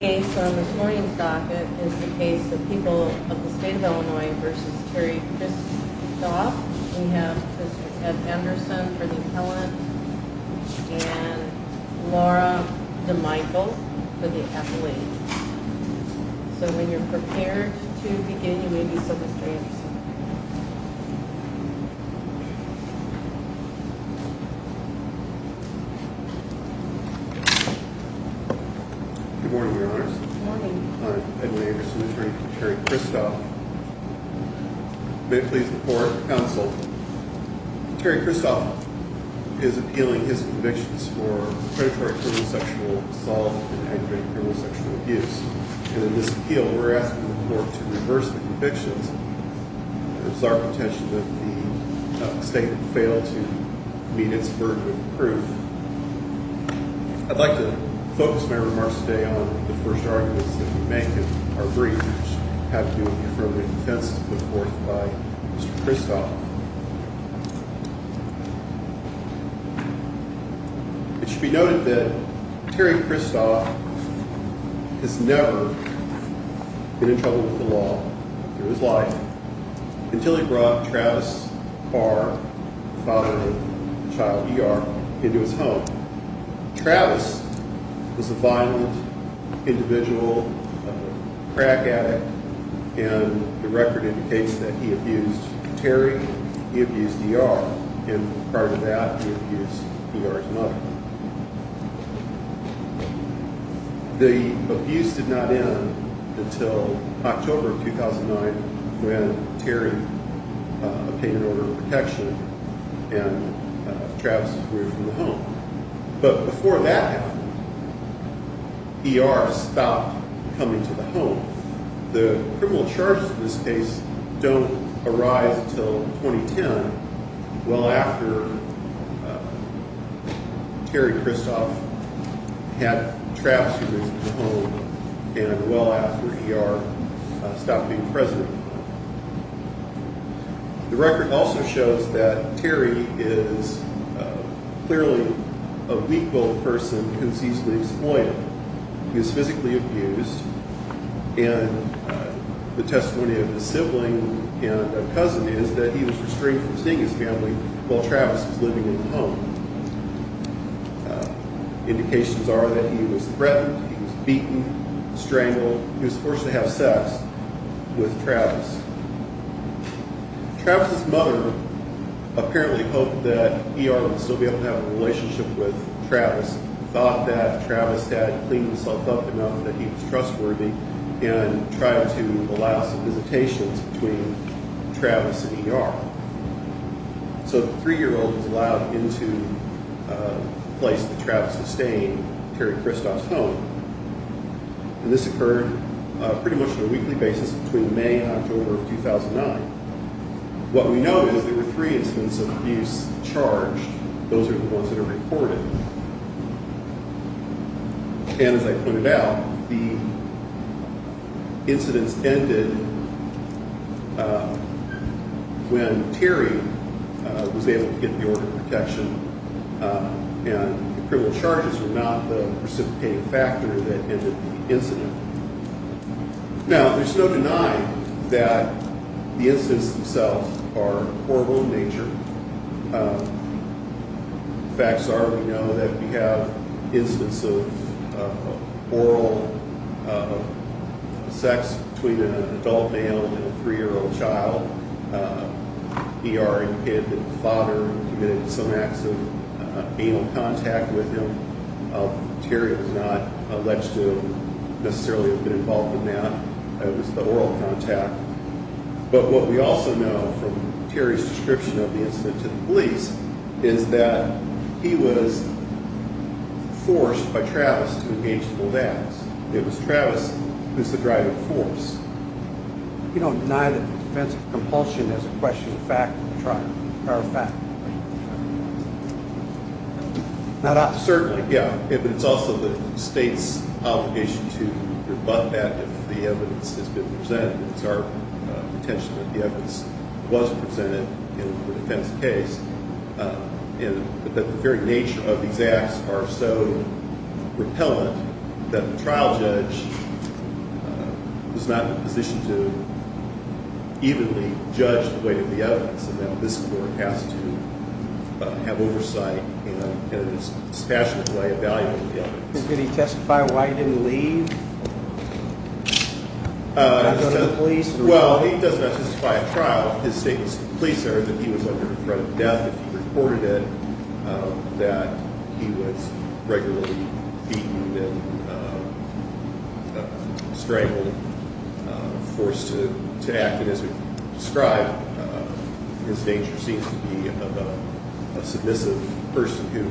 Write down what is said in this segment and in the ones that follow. The case on this morning's docket is the case of people of the state of Illinois v. Terry Christoff. We have Mr. Ted Anderson for the appellant and Laura DeMichel for the appellant. So when you're prepared to begin, you may do so Mr. Anderson. Good morning Your Honors. Good morning. I'm Ted Anderson, attorney for Terry Christoff. May it please the court, counsel, Terry Christoff is appealing his convictions for predatory criminal sexual assault and aggravated criminal sexual abuse. And in this appeal, we're asking the court to reverse the convictions. It is our intention that the state fail to meet its burden of proof. I'd like to focus my remarks today on the first arguments that we make in our brief, which have to do with the affirmative defense put forth by Mr. Christoff. It should be noted that Terry Christoff has never been in trouble with the law in his life until he brought Travis Barr, the father of the child E.R., into his home. Travis was a violent individual, a crack addict, and the record indicates that he abused Terry, he abused E.R., and prior to that he abused E.R.'s mother. The abuse did not end until October of 2009 when Terry obtained an order of protection and Travis was freed from the home. But before that happened, E.R. stopped coming to the home. The criminal charges in this case don't arise until 2010, well after Terry Christoff had Travis erased from the home and well after E.R. stopped being present. The record also shows that Terry is clearly a weak-willed person who is easily exploited. He is physically abused and the testimony of his sibling and a cousin is that he was restrained from seeing his family while Travis was living in the home. Indications are that he was threatened, he was beaten, strangled, he was forced to have sex with Travis. Travis' mother apparently hoped that E.R. would still be able to have a relationship with Travis, thought that Travis had cleaned himself up enough that he was trustworthy, and tried to allow some visitations between Travis and E.R. So the three-year-old was allowed into the place that Travis sustained, Terry Christoff's home, and this occurred pretty much on a weekly basis between May and October of 2009. What we know is there were three incidents of abuse charged. Those are the ones that are recorded. And as I pointed out, the incidents ended when Terry was able to get the order of protection and the criminal charges were not the precipitating factor that ended the incident. Now, there's no denying that the incidents themselves are horrible in nature. Facts are we know that we have incidents of oral sex between an adult male and a three-year-old child. E.R. impeded that the father committed some acts of anal contact with him. Terry was not alleged to necessarily have been involved in that. It was the oral contact. But what we also know from Terry's description of the incident to the police is that he was forced by Travis to engage in those acts. It was Travis who was the driving force. You don't deny that the defense of compulsion is a question of fact? Certainly, yeah. But it's also the state's obligation to rebut that if the evidence has been presented. It's our intention that the evidence was presented in the defense case. And that the very nature of these acts are so repellent that the trial judge is not in a position to evenly judge the weight of the evidence and that this court has to have oversight in a dispassionate way evaluating the evidence. Did he testify why he didn't leave? Well, he does not testify at trial. His statements to the police are that he was under the threat of death if he reported it, that he was regularly beaten and strangled, forced to act. And as we've described, his nature seems to be of a submissive person who,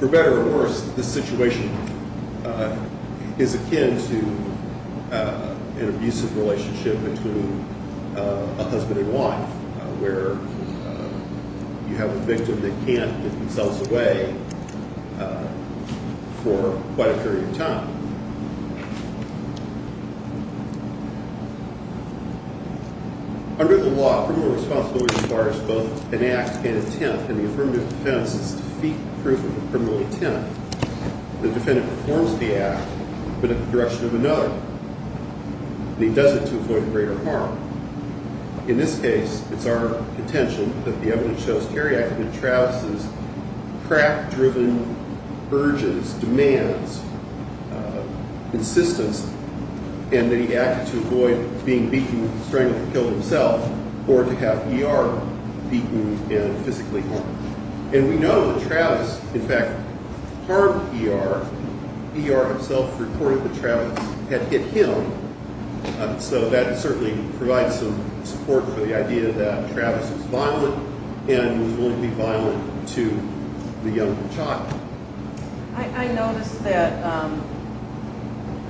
for better or worse, this situation is akin to an abusive relationship between a husband and wife where you have a victim that can't give themselves away for quite a period of time. Under the law, criminal responsibility requires both an act and intent, and the affirmative defense is to defeat the proof of a criminal intent. The defendant performs the act, but in the direction of another, and he does it to avoid greater harm. In this case, it's our contention that the evidence shows Kerry acted in Travis's crack-driven urges, demands, insistence, and that he acted to avoid being beaten, strangled, or killed himself or to have E.R. beaten and physically harmed. And we know that Travis, in fact, harmed E.R. E.R. himself reported that Travis had hit him, so that certainly provides some support for the idea that Travis was violent and was willing to be violent to the young child. I noticed that in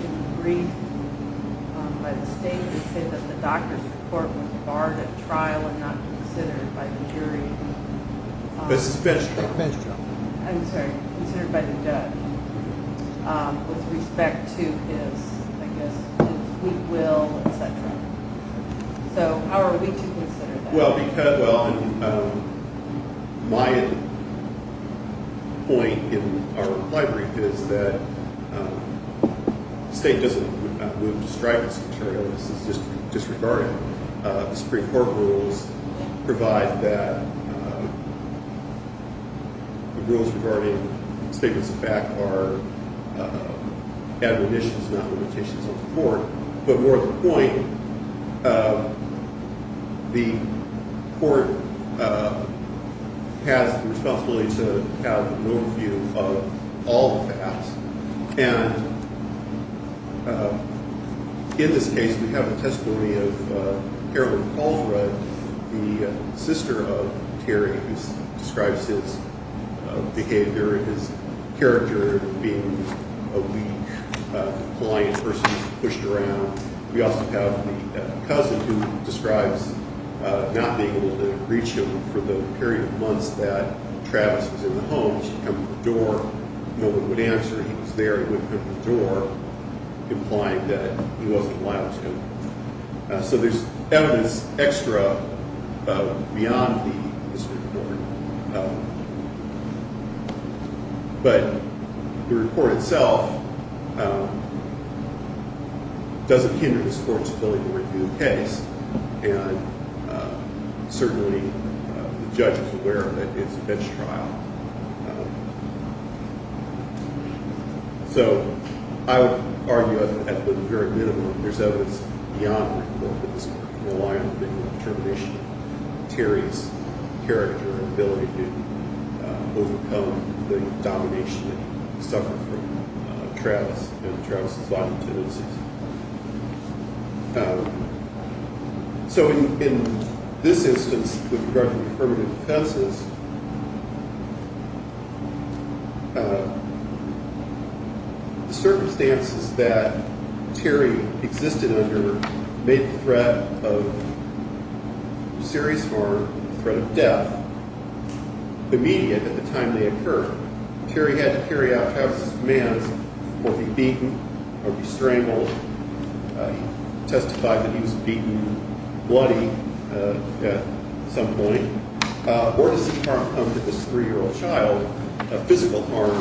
the brief by the state, they say that the doctor's report was barred at trial and not considered by the jury. This is bench trial. I'm sorry, considered by the judge with respect to his, I guess, his sweet will, etc. So how are we to consider that? Well, my point in our reply brief is that the state does not move to strike this material. This is disregarded. The Supreme Court rules provide that the rules regarding statements of fact are admonitions, not limitations of the court. But more to the point, the court has the responsibility to have an overview of all facts. And in this case, we have a testimony of Carolyn Caldwell, the sister of Terry, who describes his behavior, his character, being a weak, compliant person, pushed around. We also have the cousin who describes not being able to reach him for the period of months that Travis was in the home. She'd come to the door. No one would answer. He was there. He wouldn't come to the door, implying that he wasn't violent to him. So there's evidence extra beyond the district court. But the report itself doesn't hinder this court's ability to review the case, and certainly the judge is aware of it. It's a bench trial. So I would argue, at the very minimum, there's evidence beyond the district court to rely on the determination of Terry's character and ability to overcome the domination that he suffered from Travis and Travis's violent tendencies. So in this instance, with regard to the affirmative defenses, the circumstances that Terry existed under made the threat of serious harm, the threat of death, immediate at the time they occurred. Terry had to carry out Travis's commands or be beaten or be strangled. He testified that he was beaten bloody at some point. Or to see harm come to this three-year-old child, physical harm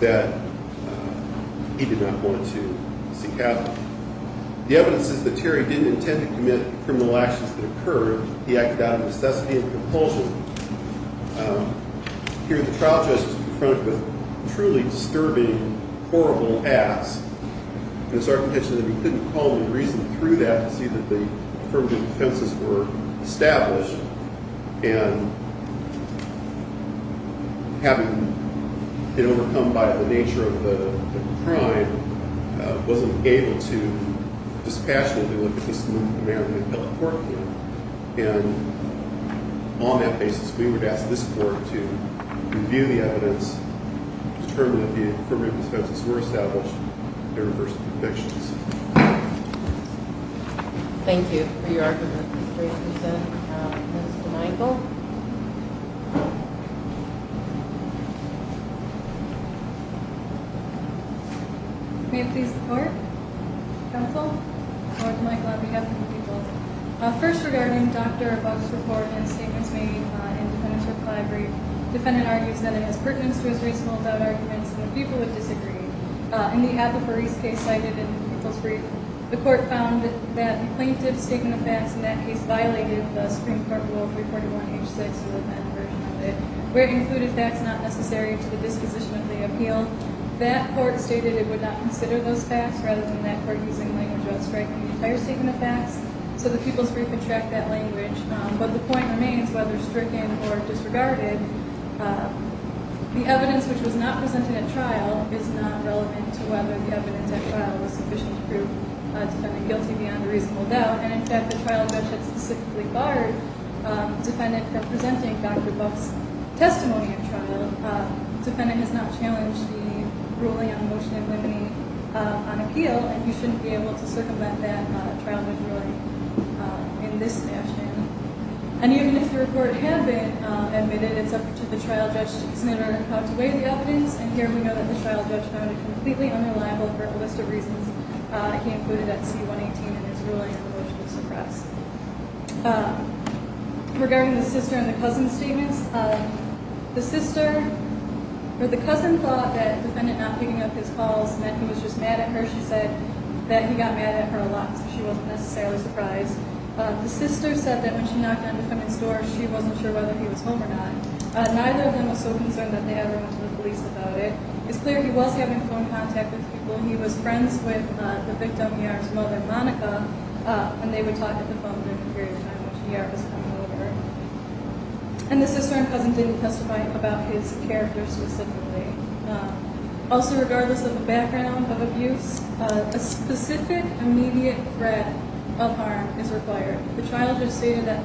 that he did not want to see happen. The evidence is that Terry didn't intend to commit criminal actions that occurred. He acted out of necessity and compulsion. Here the trial judge was confronted with truly disturbing, horrible acts, and it's our intention that we couldn't call any reason through that to see that the affirmative defenses were established. And having been overcome by the nature of the crime, wasn't able to dispassionately look at this man who had killed the poor kid. And on that basis, we would ask this court to review the evidence, determine if the affirmative defenses were established, and reverse the convictions. Thank you for your argument. Ms. DeMichel. May it please the court? Counsel? First, regarding Dr. Buck's report and statements made in defendant's reply brief, defendant argues that it has pertinence to his reasonable doubt arguments, and the people would disagree. In the Applebury's case cited in the people's brief, the court found that the plaintiff's statement of facts in that case violated the Supreme Court Rule 341-H6, where it included facts not necessary to the disposition of the appeal. That court stated it would not consider those facts, rather than that court using language outstripping the entire statement of facts, so the people's brief would track that language. But the point remains, whether stricken or disregarded, the evidence which was not presented at trial is not relevant to whether the evidence at trial was sufficient to prove defendant guilty beyond a reasonable doubt. And in fact, the trial judge had specifically barred defendant from presenting Dr. Buck's testimony at trial. Defendant has not challenged the ruling on motion of limine on appeal, and he shouldn't be able to circumvent that trial judge ruling in this fashion. And even if the report had been admitted, it's up to the trial judge to consider how to weigh the evidence. And here we know that the trial judge found it completely unreliable for a list of reasons he included at C-118 in his ruling on the motion to suppress. Regarding the sister and the cousin statements, the cousin thought that defendant not picking up his calls meant he was just mad at her. She said that he got mad at her a lot, so she wasn't necessarily surprised. The sister said that when she knocked on defendant's door, she wasn't sure whether he was home or not. Neither of them was so concerned that they ever went to the police about it. It's clear he was having phone contact with people. He was friends with the victim, E.R.'s mother, Monica, and they would talk on the phone during the period of time in which E.R. was coming over. And the sister and cousin didn't testify about his character specifically. Also, regardless of the background of abuse, a specific immediate threat of harm is required. The trial judge stated that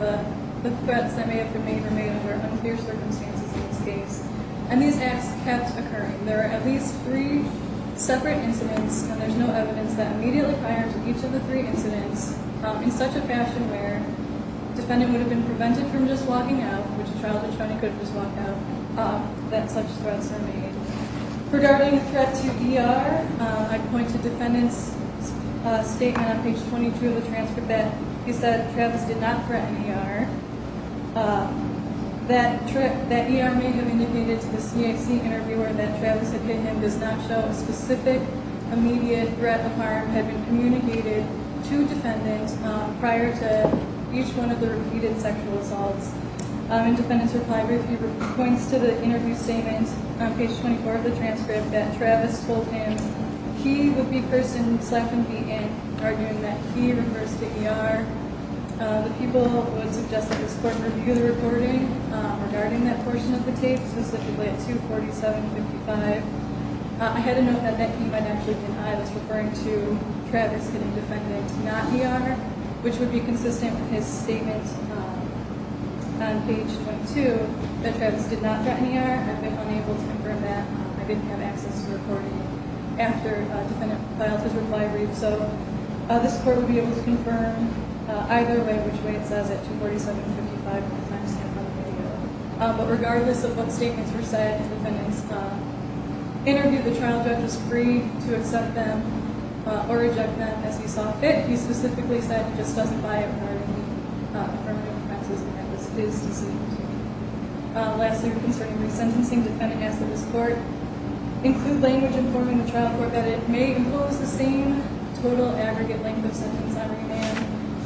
the threats that may have been made were made under unclear circumstances in this case, and these acts kept occurring. There are at least three separate incidents, and there's no evidence that immediately prior to each of the three incidents, in such a fashion where defendant would have been prevented from just walking out, which a trial judge only could just walk out, that such threats are made. Regarding the threat to E.R., I point to defendant's statement on page 22 of the transfer bed. He said Travis did not threaten E.R. That E.R. may have indicated to the CAC interviewer that Travis had hit him does not show a specific immediate threat of harm had been communicated to defendant prior to each one of the repeated sexual assaults. In defendant's reply brief, he points to the interview statement on page 24 of the transcript that Travis told him he would be first in selection to be in, arguing that he refers to E.R. The people would suggest that this court review the reporting regarding that portion of the tape, specifically at 247.55. I had a note that he might actually deny was referring to Travis hitting defendant not E.R., which would be consistent with his statement on page 22 that Travis did not threaten E.R. I've been unable to confirm that. I didn't have access to the recording after defendant filed his reply brief. So this court would be able to confirm either way, which way it says at 247.55. But regardless of what statements were said, the defendant's interview, the trial judge was free to accept them or reject them as he saw fit. He specifically said he just doesn't buy a pardon. He confirmed that Travis did not threaten E.R. Lastly, concerning resentencing, defendant asked that this court include language informing the trial court that it may impose the same total aggregate length of sentence on revamp.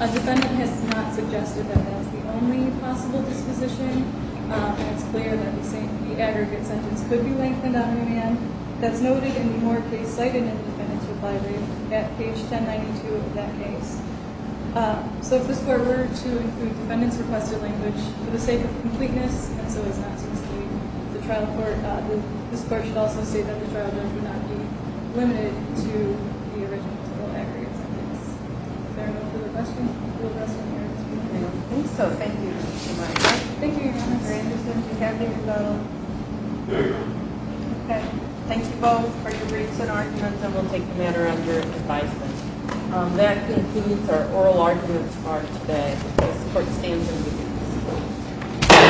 A defendant has not suggested that that's the only possible disposition. It's clear that the aggregate sentence could be lengthened on revamp. That's noted in the more case cited in the defendant's reply brief at page 1092 of that case. So if this court were to include defendant's requested language for the sake of completeness and so as not to exceed the trial court, this court should also state that the trial judge would not be limited to the original total aggregate sentence. Is there no further questions? I don't think so. Thank you. Thank you, Your Honor. Thank you both for your briefs and arguments, and we'll take the matter under advisement. That concludes our oral arguments for today. This court stands adjourned.